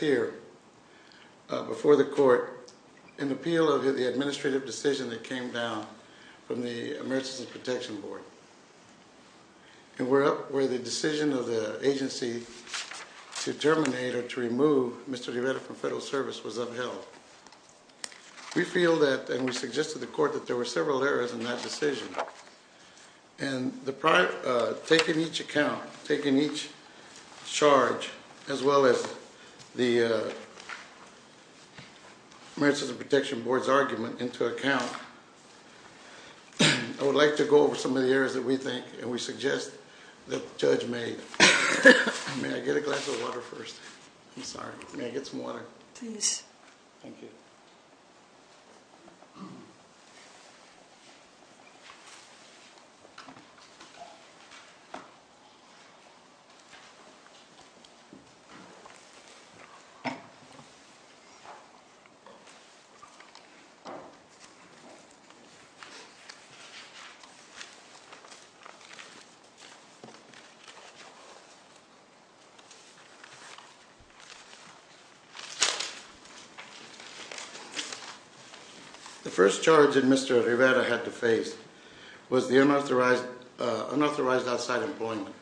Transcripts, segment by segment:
here before the court in appeal of the administrative decision that came down from the emergency protection board and where up where the decision of the agency to terminate or to remove Mr. Loretta from federal service was upheld. We feel that and we suggested the court that there were several errors in that decision and the prior taking each account taking each charge as well as the emergency protection board's argument into account. I would like to go over some of the areas that we think and we suggest that the judge may may I get a glass of water first I'm sorry may I get some water please thank you. So The first charge that Mr. Rivetta had to face was the unauthorized, unauthorized outside employment.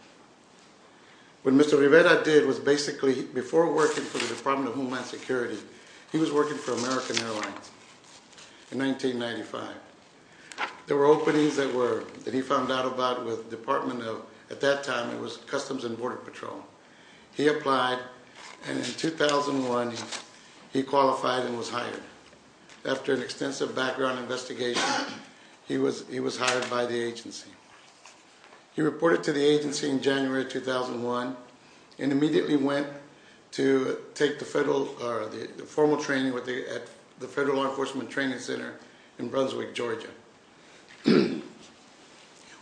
What Mr. Rivetta did was basically, before working for the Department of Homeland Security, he was working for American Airlines in 1995. There were openings that were, that he found out about with Department of, at that time it was Customs and Border Patrol. He applied, and in 2001 he qualified and was hired. After an extensive background investigation, he was, he was hired by the agency. He reported to the agency in January 2001 and immediately went to take the federal, or the formal training with the, at the Federal Law Enforcement Training Center in Brunswick, Georgia.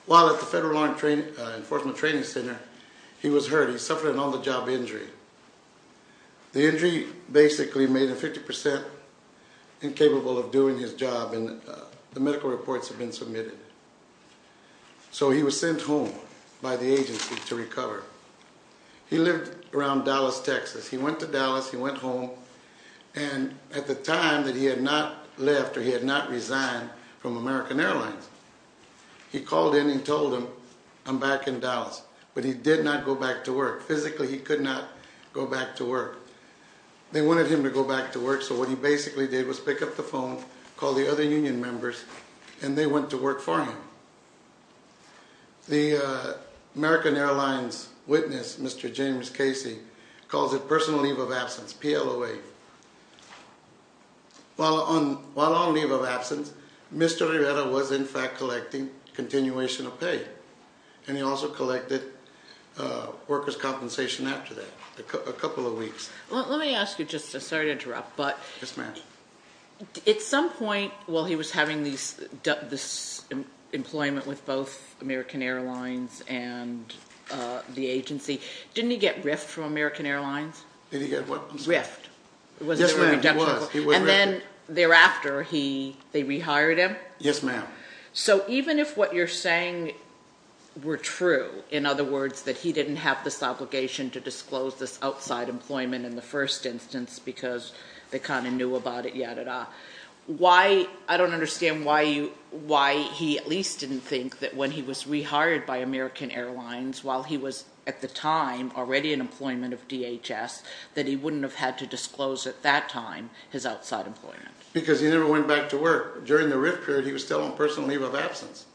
While at the Federal Law Enforcement Training Center, he was hurt. He suffered an on-the-job injury. The injury basically made him 50% incapable of doing his job, and the medical reports had been submitted. So he was sent home by the agency to recover. He lived around Dallas, Texas. He went to Dallas, he went home, and at the time that he had not left, or he had not resigned from American Airlines, he called in and told them, I'm back in Dallas. But he did not go back to work. Physically, he could not go back to work. They wanted him to go back to work, so what he basically did was pick up the phone, call the other union members, and they went to work for him. The American Airlines witness, Mr. James Casey, calls it personal leave of absence, PLOA. While on leave of absence, Mr. Rivera was in fact collecting continuation of pay, and he also collected workers' compensation after that, a couple of weeks. Let me ask you, sorry to interrupt, but at some point while he was having this employment with both American Airlines and the agency, didn't he get riffed from American Airlines? Riffed. And then thereafter, they rehired him? Yes, ma'am. So even if what you're saying were true, in other words, that he didn't have this obligation to the first instance because they kind of knew about it, yada, yada. I don't understand why he at least didn't think that when he was rehired by American Airlines, while he was at the time already in employment of DHS, that he wouldn't have had to disclose at that time his outside employment. Because he never went back to work. During the riff period, he was still on personal leave of absence.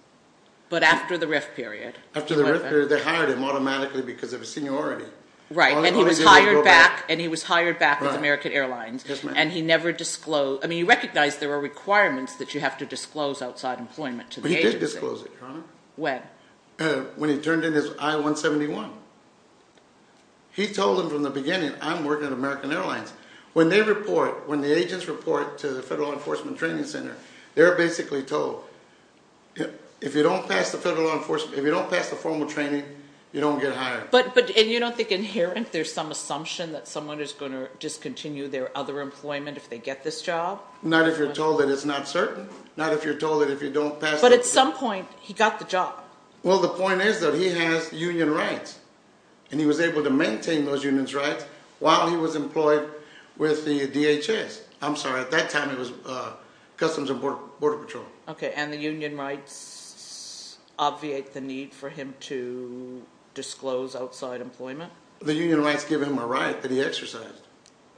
But after the riff period? After the riff period, they hired him automatically because of his seniority. Right, and he was hired back with American Airlines, and he never disclosed. I mean, you recognize there are requirements that you have to disclose outside employment to the agency. But he did disclose it, Your Honor. When? When he turned in his I-171. He told them from the beginning, I'm working at American Airlines. When they report, when the agents report to the Federal Law Enforcement Training Center, they're basically told, if you don't pass the Federal Law Enforcement, if you don't pass the formal training, you don't get hired. But, and you don't think inherent there's some assumption that someone is going to discontinue their other employment if they get this job? Not if you're told that it's not certain. Not if you're told that if you don't pass... But at some point, he got the job. Well, the point is that he has union rights. And he was able to maintain those union rights while he was employed with the DHS. I'm sorry, at that time it was Customs and Border Patrol. Okay. And the union rights obviate the need for him to disclose outside employment? The union rights give him a right that he exercised.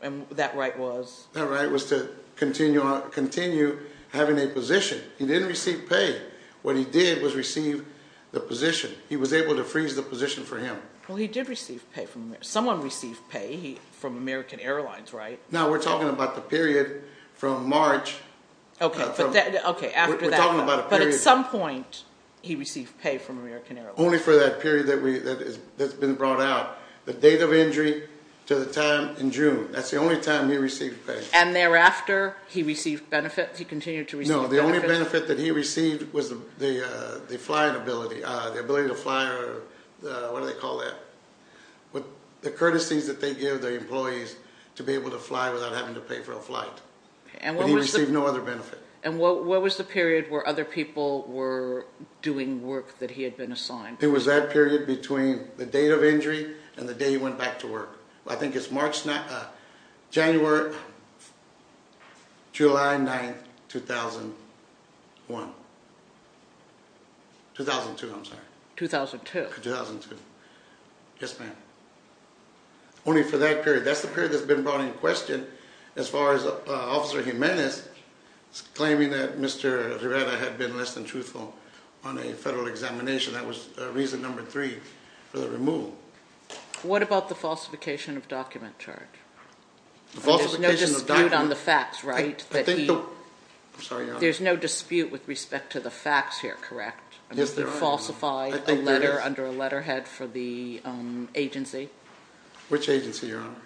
And that right was? That right was to continue having a position. He didn't receive pay. What he did was receive the position. He was able to freeze the position for him. Well, he did receive pay from... Someone received pay from American Airlines, right? No, we're talking about the period from March. Okay, after that. We're talking about a period. But at some point, he received pay from American Airlines. Only for that period that's been brought out. The date of injury to the time in June. That's the only time he received pay. And thereafter, he received benefits? He continued to receive benefits? No, the only benefit that he received was the flying ability. The ability to fly, or what do they call that? The courtesies that they fly without having to pay for a flight. And he received no other benefit. And what was the period where other people were doing work that he had been assigned? It was that period between the date of injury and the day he went back to work. I think it's January, July 9th, 2001. 2002, I'm sorry. 2002? 2002. Yes, ma'am. Only for that period. That's the period that's been brought in question, as far as Officer Jimenez claiming that Mr. Rivera had been less than truthful on a federal examination. That was reason number three for the removal. What about the falsification of document charge? The falsification of document? There's no dispute on the facts, right? There's no dispute with respect to the facts here, correct? Yes, there are, ma'am. He falsified a letter for the agency. Which agency, Your Honor?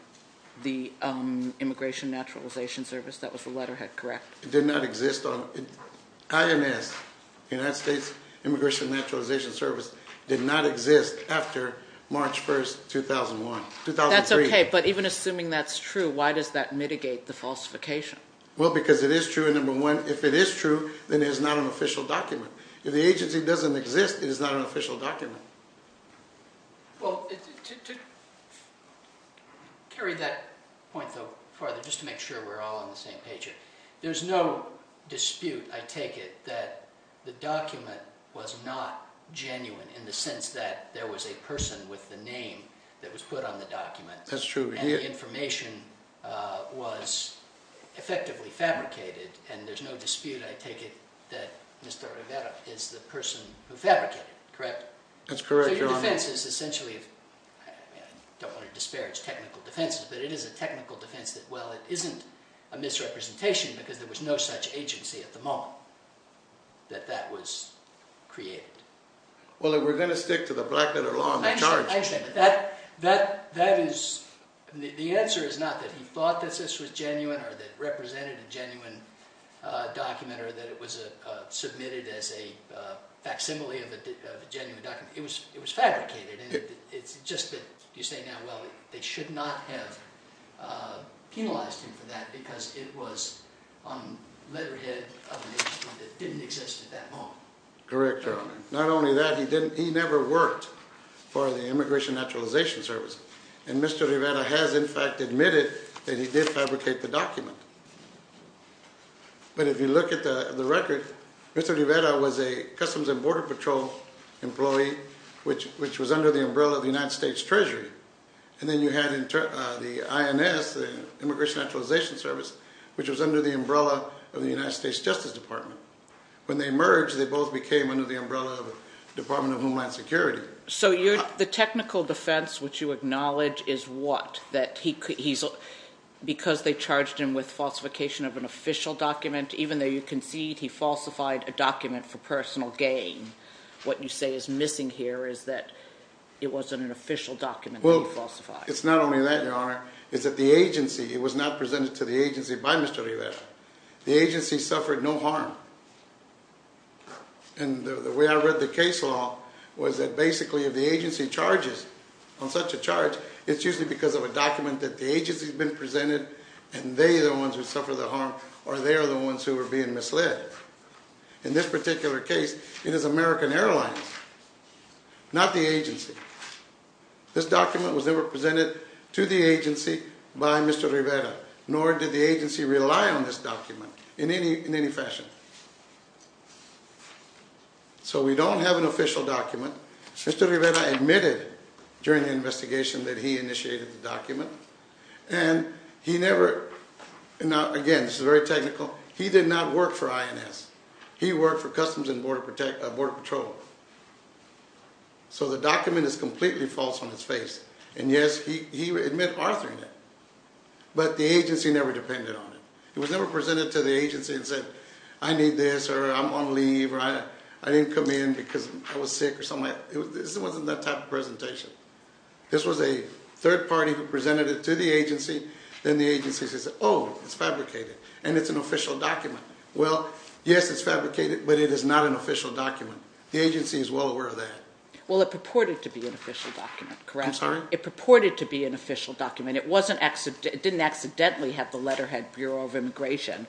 The Immigration Naturalization Service. That was the letterhead, correct? It did not exist. IMS, United States Immigration Naturalization Service, did not exist after March 1st, 2003. That's okay, but even assuming that's true, why does that mitigate the falsification? Well, because it is true, and number one, if it is true, then it is not an official document. If the agency doesn't exist, it is not an official document. Well, to carry that point further, just to make sure we're all on the same page here, there's no dispute, I take it, that the document was not genuine in the sense that there was a person with the name that was put on the document. That's true. And the information was effectively fabricated, and there's no dispute, I take it, that Mr. Rivera is the person who fabricated it, correct? That's correct, Your Honor. So your defense is essentially, I don't want to disparage technical defenses, but it is a technical defense that, well, it isn't a misrepresentation because there was no such agency at the moment that that was created. Well, we're going to stick to the Blackletter Law, I'm in charge. I understand, but the answer is not that he thought that this was genuine or that it was submitted as a facsimile of a genuine document. It was fabricated. It's just that you say now, well, they should not have penalized him for that because it was on letterhead of an agency that didn't exist at that moment. Correct, Your Honor. Not only that, he never worked for the Immigration Naturalization Service, and Mr. Rivera has in fact admitted that he did fabricate the document. But if you look at the record, Mr. Rivera was a Customs and Border Patrol employee, which was under the umbrella of the United States Treasury. And then you had the INS, the Immigration Naturalization Service, which was under the umbrella of the United States Justice Department. When they merged, they both became under the umbrella of the Department of Homeland Security. So the technical defense, which you acknowledge, is what? That because they charged him with falsification of an official document, even though you concede he falsified a document for personal gain, what you say is missing here is that it wasn't an official document that he falsified. Well, it's not only that, Your Honor, it's that the agency, it was not presented to the agency by Mr. Rivera. The agency suffered no harm. And the way I read the case law was that basically if the agency charges on such a charge, it's usually because of a document that the agency has been presented and they are the ones who suffer the harm or they are the ones who are being misled. In this particular case, it is American Airlines, not the agency. This document was never presented to the agency by Mr. Rivera, nor did the agency rely on this document in any fashion. So we don't have an official document. Mr. Rivera admitted during the investigation that he initiated the document. And he never, now again, this is very technical, he did not work for INS. He worked for Customs and Border Patrol. So the document is completely false on its face. And yes, he admit authoring it, but the agency never depended on it. It was never presented to the agency and said, I need this, or I'm on leave, or I didn't come in because I was sick or something. It wasn't that type of presentation. This was a third party who presented it to the agency. Then the agency says, oh, it's fabricated. And it's an official document. Well, yes, it's fabricated, but it is not an official document. The agency is well aware of that. Well, it purported to be an official document, correct? I'm sorry? It purported to be an official document. It didn't accidentally have the letterhead Bureau of Immigration.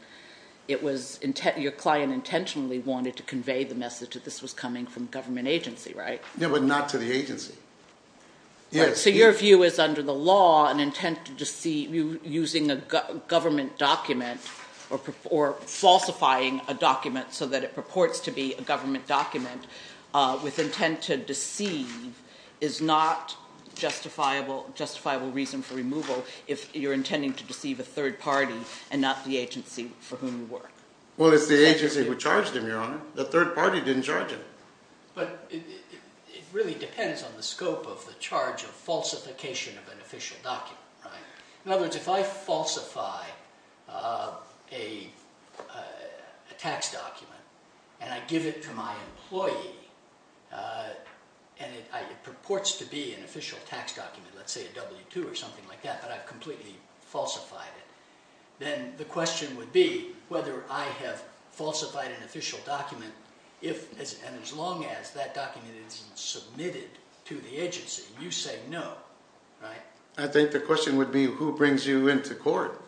Your client intentionally wanted to convey the message that this was coming from a government agency, right? Yeah, but not to the agency. Yes. So your view is under the law, an intent to deceive using a government document or falsifying a document so that it purports to be a government document with intent to deceive is not justifiable reason for removal if you're intending to deceive a third party and not the agency for whom you work? Well, it's the agency who charged him, Your Honor. The third party didn't charge him. But it really depends on the scope of the charge of falsification of an official document, right? In other words, if I falsify a tax document and I give it to my employee and it purports to be an official tax document, let's say a W-2 or something like that, but I've completely falsified it, then the question would be whether I have falsified an official document. And as long as that document isn't submitted to the agency, you say no, right? I think the question would be who brings you into court,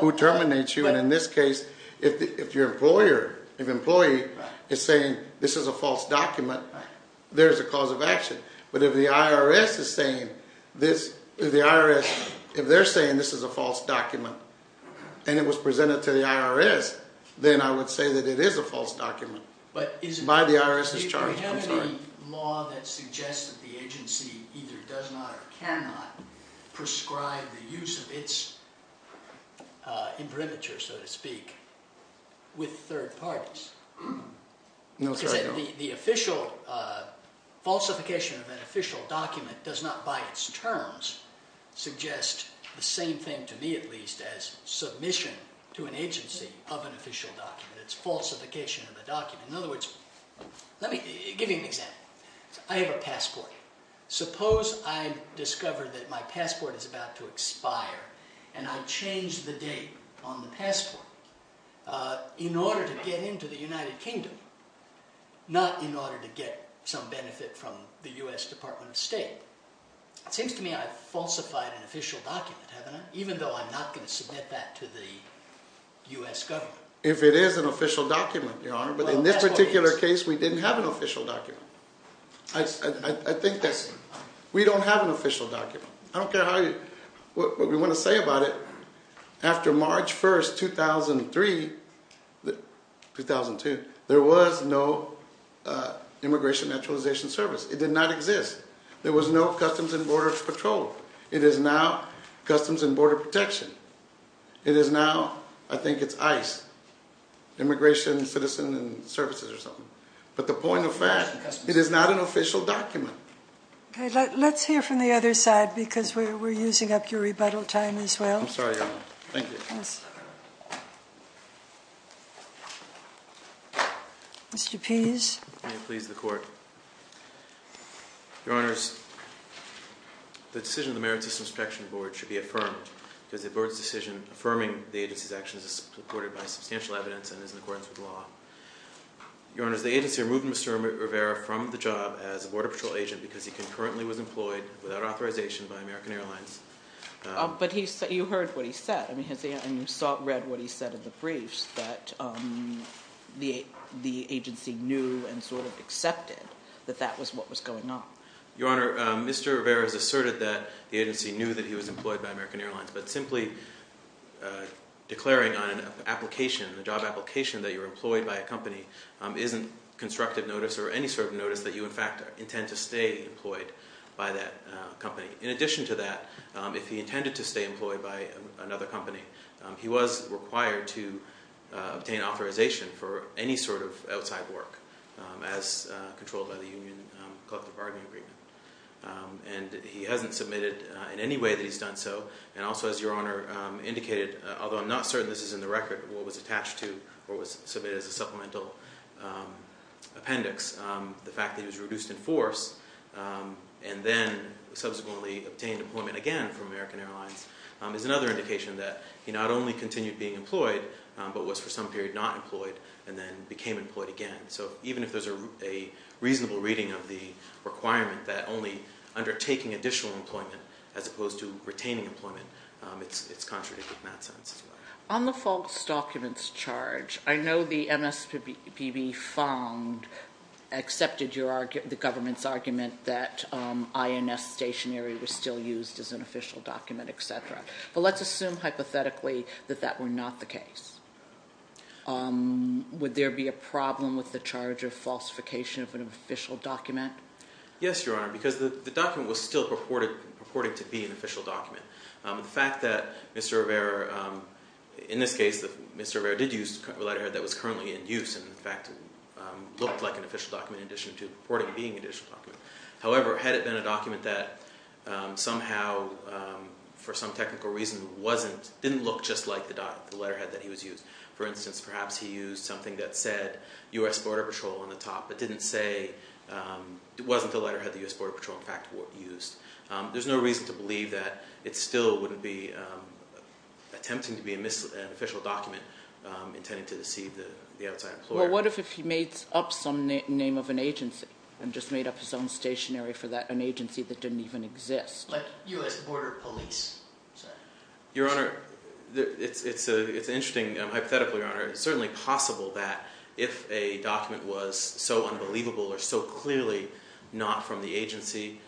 who terminates you. And in this case, if your employer, if employee is saying this is a false document, there's a cause of action. But if the IRS is saying this, if the IRS, if they're saying this is a false document and it was presented to the IRS, then I would say that it is a false document by the IRS's charge. But is there any law that suggests that the agency either does not or cannot prescribe the use of its imprimatur, so to speak, with third parties? No, sir. The official falsification of an official document does not by its terms suggest the same thing to me, at least, as submission to an agency of an official document. It's falsification of the document. In other words, let me give you an example. I have a passport. Suppose I discover that my passport is about to expire and I change the date on the passport in order to get into the United Kingdom, not in order to get some benefit from the U.S. Department of State. It seems to me I've falsified an official document, haven't I, even though I'm not going to submit that to the U.S. government. If it is an official document, Your Honor, but in this particular case, we didn't have an official document. I think that we don't have an official document. I don't care what we want to say about it. After March 1, 2002, there was no Immigration Naturalization Service. It did not exist. There was no Customs and Borders Patrol. It is now Customs and Border Protection. It is now, I think it's ICE, Immigration Citizen Services or something. But the point of that, it is not an official document. Let's hear from the other side because we're using up your rebuttal time as well. I'm sorry, Your Honor. Thank you. Mr. Pease. May it please the Court. Your Honors, the decision of the Merit System Protection Board should be affirmed because the board's decision affirming the agency's actions is supported by substantial evidence and is in accordance with law. Your Honors, the agency removed Mr. Rivera from the job as a Border Patrol agent because he concurrently was employed without authorization by American Airlines. But you heard what he said. I mean, you read what he said in the briefs that the agency knew and sort of accepted that that was what was going on. Your Honor, Mr. Rivera has asserted that the agency knew that he was employed by American Airlines. And he's also asserted that the job application that you're employed by a company isn't constructive notice or any sort of notice that you in fact intend to stay employed by that company. In addition to that, if he intended to stay employed by another company, he was required to obtain authorization for any sort of outside work as controlled by the Union Collective Bargaining Agreement. And he hasn't submitted in any way that he's done so. And also, as Your Honor indicated, although I'm not certain this is in the record, what was attached to or was submitted as a supplemental appendix, the fact that he was reduced in force and then subsequently obtained employment again from American Airlines is another indication that he not only continued being employed, but was for some period not employed and then became employed again. So even if there's a reasonable reading of the requirement that only undertaking additional employment as opposed to retaining employment, it's contradictory in that sense as well. On the false documents charge, I know the MSPB found, accepted the government's argument that INS stationery was still used as an official document, et cetera. But let's assume hypothetically that that were not the case. Would there be a problem with the charge of falsification of an official document? Yes, Your Honor, because the document was still purported to be an official document. The fact that Mr. Rivera, in this case, Mr. Rivera did use a letterhead that was currently in use and in fact looked like an official document in addition to purporting to being an official document. However, had it been a document that somehow, for some technical reason, didn't look just like the letterhead that he was using. For instance, perhaps he used something that said U.S. Border Patrol on the top, but didn't say it wasn't the letterhead the U.S. Border Patrol in fact used. There's no reason to believe that it still wouldn't be attempting to be an official document intending to deceive the outside employer. Well, what if he made up some name of an agency and just made up his own stationery for an agency that didn't even exist? Like U.S. Border Police. Your Honor, it's interesting, hypothetically, Your Honor. It's certainly possible that if a document was so unbelievable or so clearly not from the agency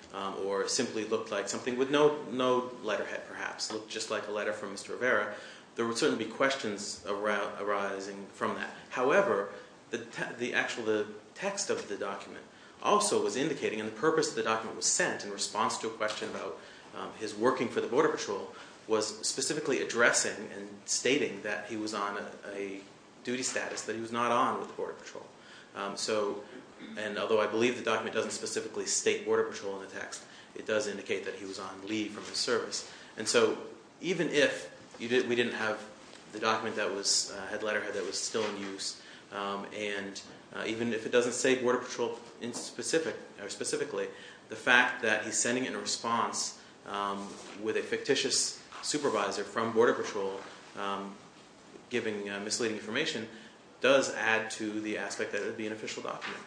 or simply looked like something with no letterhead perhaps, looked just like a letter from Mr. Rivera, there would certainly be questions arising from that. However, the actual text of the document also was indicating, and the purpose of the document was sent in response to a question about his working for the Border Patrol, was specifically addressing and stating that he was on a duty status that he was not on with the Border Patrol. And although I believe the document doesn't specifically state Border Patrol in the text, it does indicate that he was on leave from his service. And so even if we didn't have the document that had letterhead that was still in use and even if it doesn't say Border Patrol specifically, the fact that he's sending in a response with a fictitious supervisor from Border Patrol giving misleading information does add to the aspect that it would be an official document.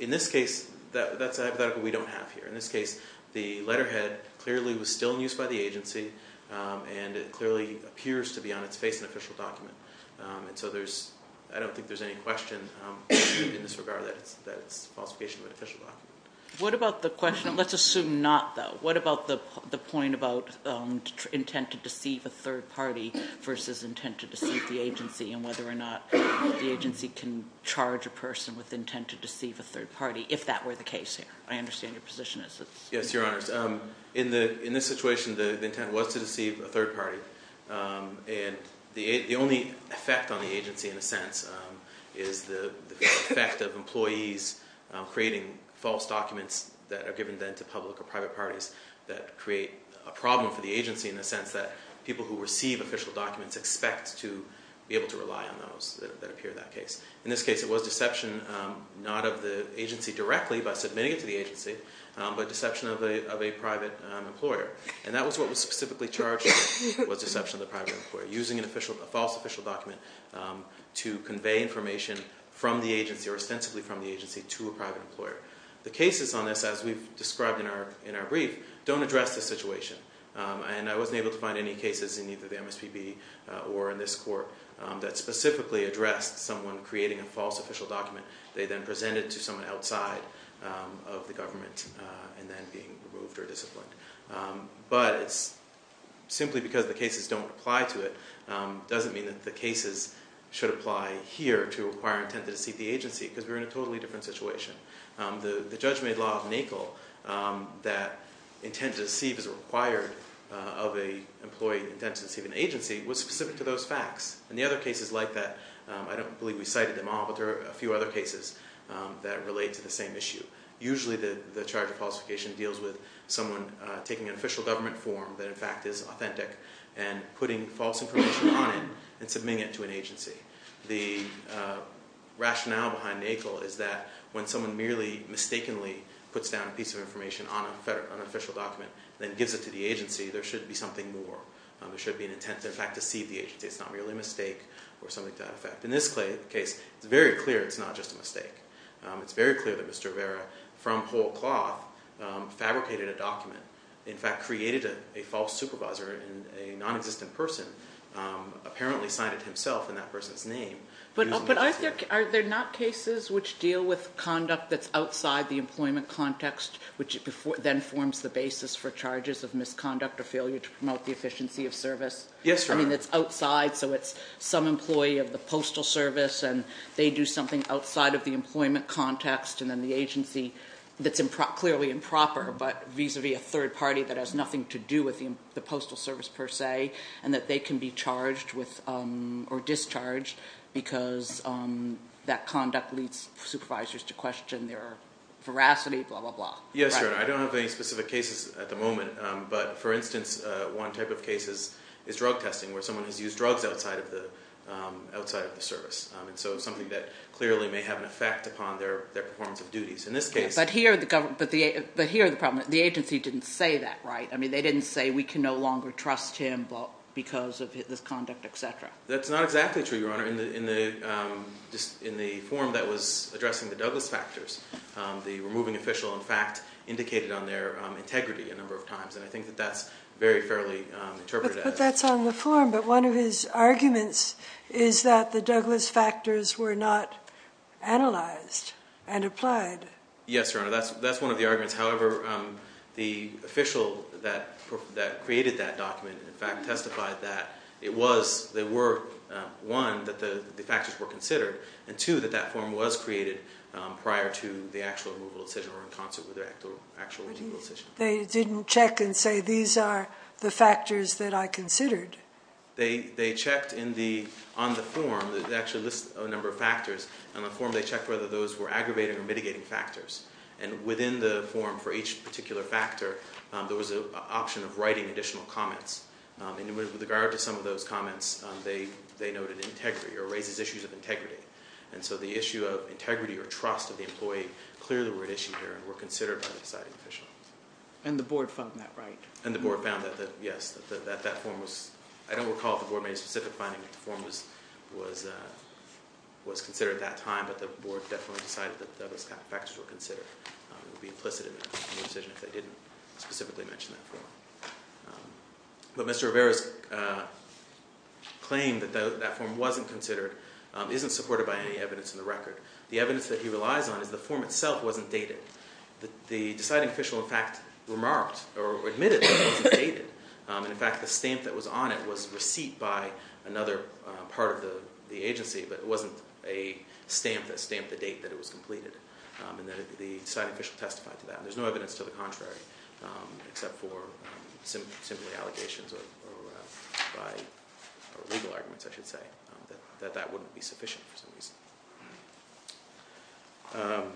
In this case, that's a hypothetical we don't have here. In this case, the letterhead clearly was still in use by the agency and it clearly appears to be on its face an official document. And so there's, I don't think there's any question in this regard that it's a falsification of an official document. What about the question, let's assume not though. What about the point about intent to deceive a third party versus intent to deceive the agency and whether or not the agency can charge a person with intent to deceive a third party if that were the case here? I understand your position is this. Yes, your honors. In this situation, the intent was to deceive a third party. And the only effect on the agency in a sense is the effect of employees creating false documents that are given then to public or private parties that create a problem for the agency in the sense that people who receive official documents expect to be able to rely on those that appear in that case. In this case, it was deception not of the agency directly by submitting it to the agency but deception of a private employer. And that was what was specifically charged was deception of the private employer using an official, a false official document to convey information from the agency or extensively from the agency to a private employer. The cases on this as we've described in our brief don't address the situation. And I wasn't able to find any cases in either the MSPB or in this court that specifically addressed someone creating a false official document. They then presented to someone outside of the government and then being removed or disciplined. But it's simply because the cases don't apply to it doesn't mean that the cases should be used to deceive the agency because we're in a totally different situation. The judgment law of NACL that intended to deceive as required of an employee intended to deceive an agency was specific to those facts. And the other cases like that, I don't believe we cited them all but there are a few other cases that relate to the same issue. Usually, the charge of falsification deals with someone taking an official government form that in fact is authentic and putting false information on it and submitting it to an agency. The rationale behind NACL is that when someone merely mistakenly puts down a piece of information on an official document then gives it to the agency, there should be something more. There should be an intent to in fact deceive the agency. It's not really a mistake or something to that effect. In this case, it's very clear it's not just a mistake. It's very clear that Mr. Rivera from whole cloth fabricated a document, in fact created a false supervisor and a non-existent person apparently signed it himself in that person's name. But are there not cases which deal with conduct that's outside the employment context which then forms the basis for charges of misconduct or failure to promote the efficiency of service? Yes. I mean it's outside so it's some employee of the postal service and they do something outside of the employment context and then the agency that's clearly improper but vis-a-vis a third party that has nothing to do with the postal service per se and that they can be charged with or discharged because that conduct leads supervisors to question their veracity, blah, blah, blah. Yes, Your Honor. I don't have any specific cases at the moment. But for instance, one type of case is drug testing where someone has used drugs outside of the service. And so something that clearly may have an effect upon their performance of duties. In this case- But here the agency didn't say that, right? I mean they didn't say we can no longer trust him because of this conduct, et cetera. That's not exactly true, Your Honor. In the form that was addressing the Douglas factors, the removing official in fact indicated on their integrity a number of times. And I think that that's very fairly interpreted as- But that's on the form. But one of his arguments is that the Douglas factors were not analyzed and applied. Yes, Your Honor. That's one of the arguments. However, the official that created that document in fact testified that it was, they were, one, that the factors were considered. And two, that that form was created prior to the actual removal decision or in concert with the actual removal decision. They didn't check and say these are the factors that I considered? They checked on the form that actually lists a number of factors. On the form they checked whether those were aggravating or mitigating factors. And within the form for each particular factor, there was an option of writing additional comments. And with regard to some of those comments, they noted integrity or raises issues of integrity. And so the issue of integrity or trust of the employee clearly were at issue here and were considered by the deciding official. And the board found that, right? And the board found that, yes, that that form was, I don't recall if the board made a specific finding that the form was considered at that time. But the board definitely decided that those factors were considered. It would be implicit in the decision if they didn't specifically mention that form. But Mr. Rivera's claim that that form wasn't considered isn't supported by any evidence in the record. The evidence that he relies on is the form itself wasn't dated. The deciding official in fact remarked or admitted that it wasn't dated. And in fact, the stamp that was on it was receipt by another part of the agency. But it wasn't a stamp that stamped the date that it was completed. And the deciding official testified to that. There's no evidence to the contrary except for simply allegations or by legal arguments, I should say, that that wouldn't be sufficient for some reason.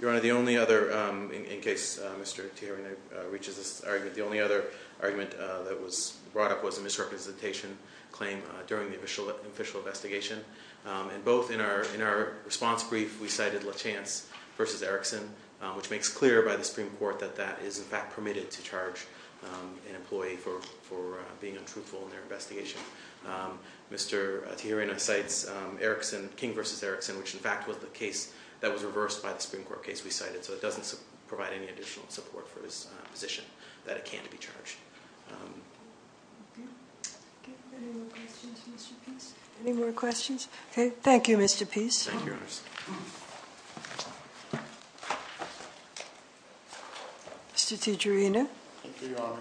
Your Honor, the only other, in case Mr. Tierney reaches this argument, the only other argument that was brought up was a misrepresentation claim during the official investigation. And both in our response brief, we cited Lachance versus Erickson, which makes clear by the investigation. Mr. Tijerina cites Erickson, King versus Erickson, which in fact was the case that was reversed by the Supreme Court case we cited. So it doesn't provide any additional support for his position that it can't be charged. Any more questions? Okay. Thank you, Mr. Peace. Mr. Tijerina. Thank you, Your Honor.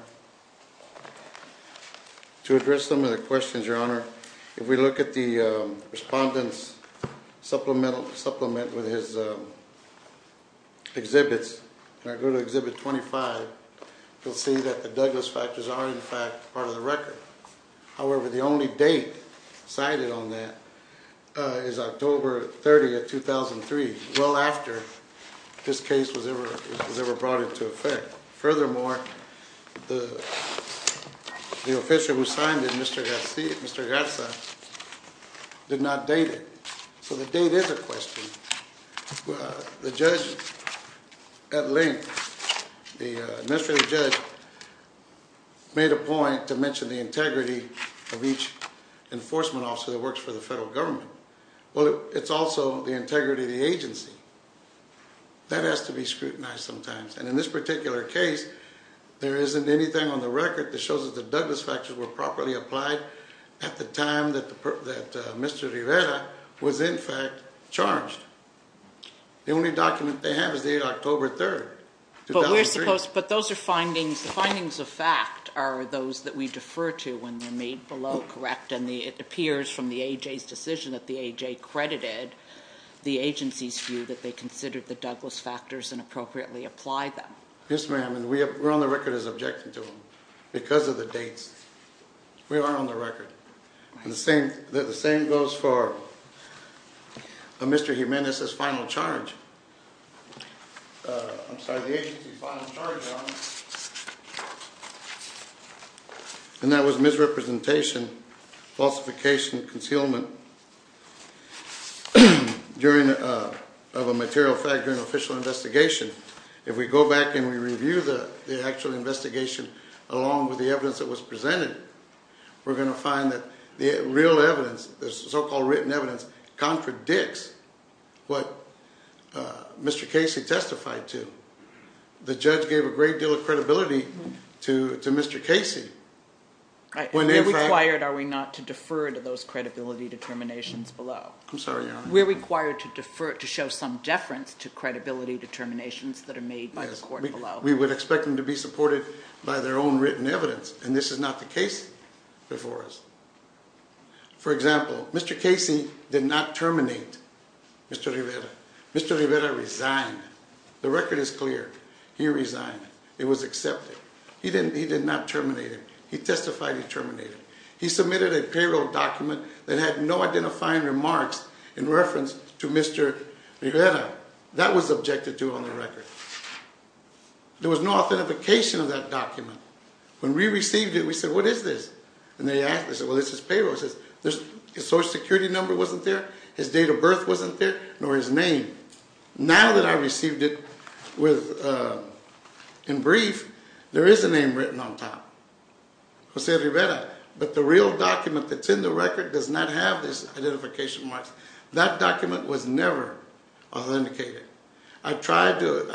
To address some of the questions, Your Honor, if we look at the respondent's supplement with his exhibits, and I go to Exhibit 25, you'll see that the Douglas factors are, in fact, part of the record. However, the only date cited on that is October 30, 2003, well after this case was ever brought into effect. Furthermore, the official who signed it, Mr. Garza, did not date it. So the date is a question. The judge at length, the administrative judge, made a point to mention the integrity of each enforcement officer that works for the federal government. Well, it's also the integrity of the agency. That has to be scrutinized sometimes. And in this particular case, there isn't anything on the record that shows that the Douglas factors were properly applied at the time that Mr. Rivera was, in fact, charged. The only document they have is the date, October 3, 2003. But those are findings. The findings of fact are those that we defer to when they're made below correct. And it appears from the AJ's decision that the AJ credited the agency's view that they applied them. Yes, ma'am. And we're on the record as objecting to them because of the dates. We are on the record. And the same goes for Mr. Jimenez's final charge. I'm sorry, the agency's final charge. And that was misrepresentation, falsification, concealment of a material fact during an official investigation. If we go back and we review the actual investigation, along with the evidence that was presented, we're going to find that the real evidence, the so-called written evidence, contradicts what Mr. Casey testified to. The judge gave a great deal of credibility to Mr. Casey. Are we required, are we not, to defer to those credibility determinations below? I'm sorry, Your Honor. We're required to show some deference to credibility determinations that are made by the court below. We would expect them to be supported by their own written evidence. And this is not the case before us. For example, Mr. Casey did not terminate Mr. Rivera. Mr. Rivera resigned. The record is clear. He resigned. It was accepted. He did not terminate him. He testified he terminated him. He submitted a payroll document that had no identifying remarks in reference to Mr. Rivera. That was objected to on the record. There was no authentication of that document. When we received it, we said, what is this? And they asked us, well, this is payroll. His Social Security number wasn't there. His date of birth wasn't there, nor his name. Now that I received it in brief, there is a name written on top, Jose Rivera. But the real document that's in the record does not have this identification mark. That document was never authenticated. I tried to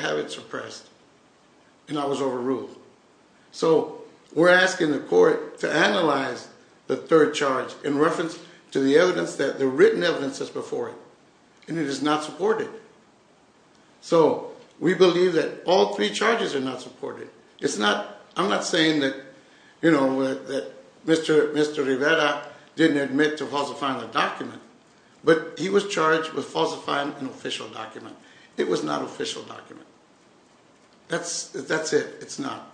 have it suppressed, and I was overruled. So we're asking the court to analyze the third charge in reference to the written evidence that's before it. And it is not supported. So we believe that all three charges are not supported. I'm not saying that Mr. Rivera didn't admit to falsifying the document. But he was charged with falsifying an official document. It was not an official document. That's it. It's not.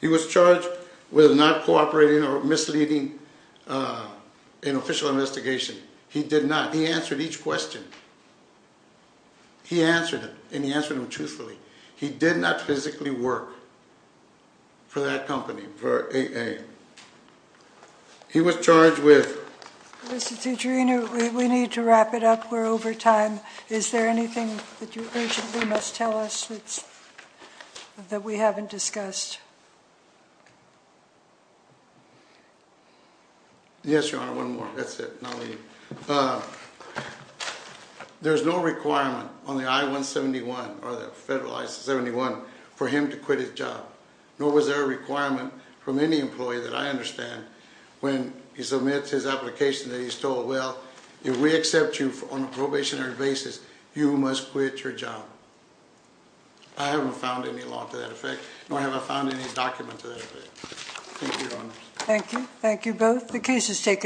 He was charged with not cooperating or misleading an official investigation. He did not. He answered each question. He answered it. And he answered them truthfully. He did not physically work for that company, for AA. He was charged with. Mr. Tetrino, we need to wrap it up. We're over time. Is there anything that you urgently must tell us that we haven't discussed? Yes, Your Honor. One more. That's it. And I'll leave. There is no requirement on the I-171, or the federal I-71, for him to quit his job. Nor was there a requirement from any employee that I understand when he submits his application that he's told, well, if we accept you on a probationary basis, you must quit your job. I haven't found any law to that effect. Nor have I found any document to that effect. Thank you, Your Honor. Thank you. Thank you both. The case is taken.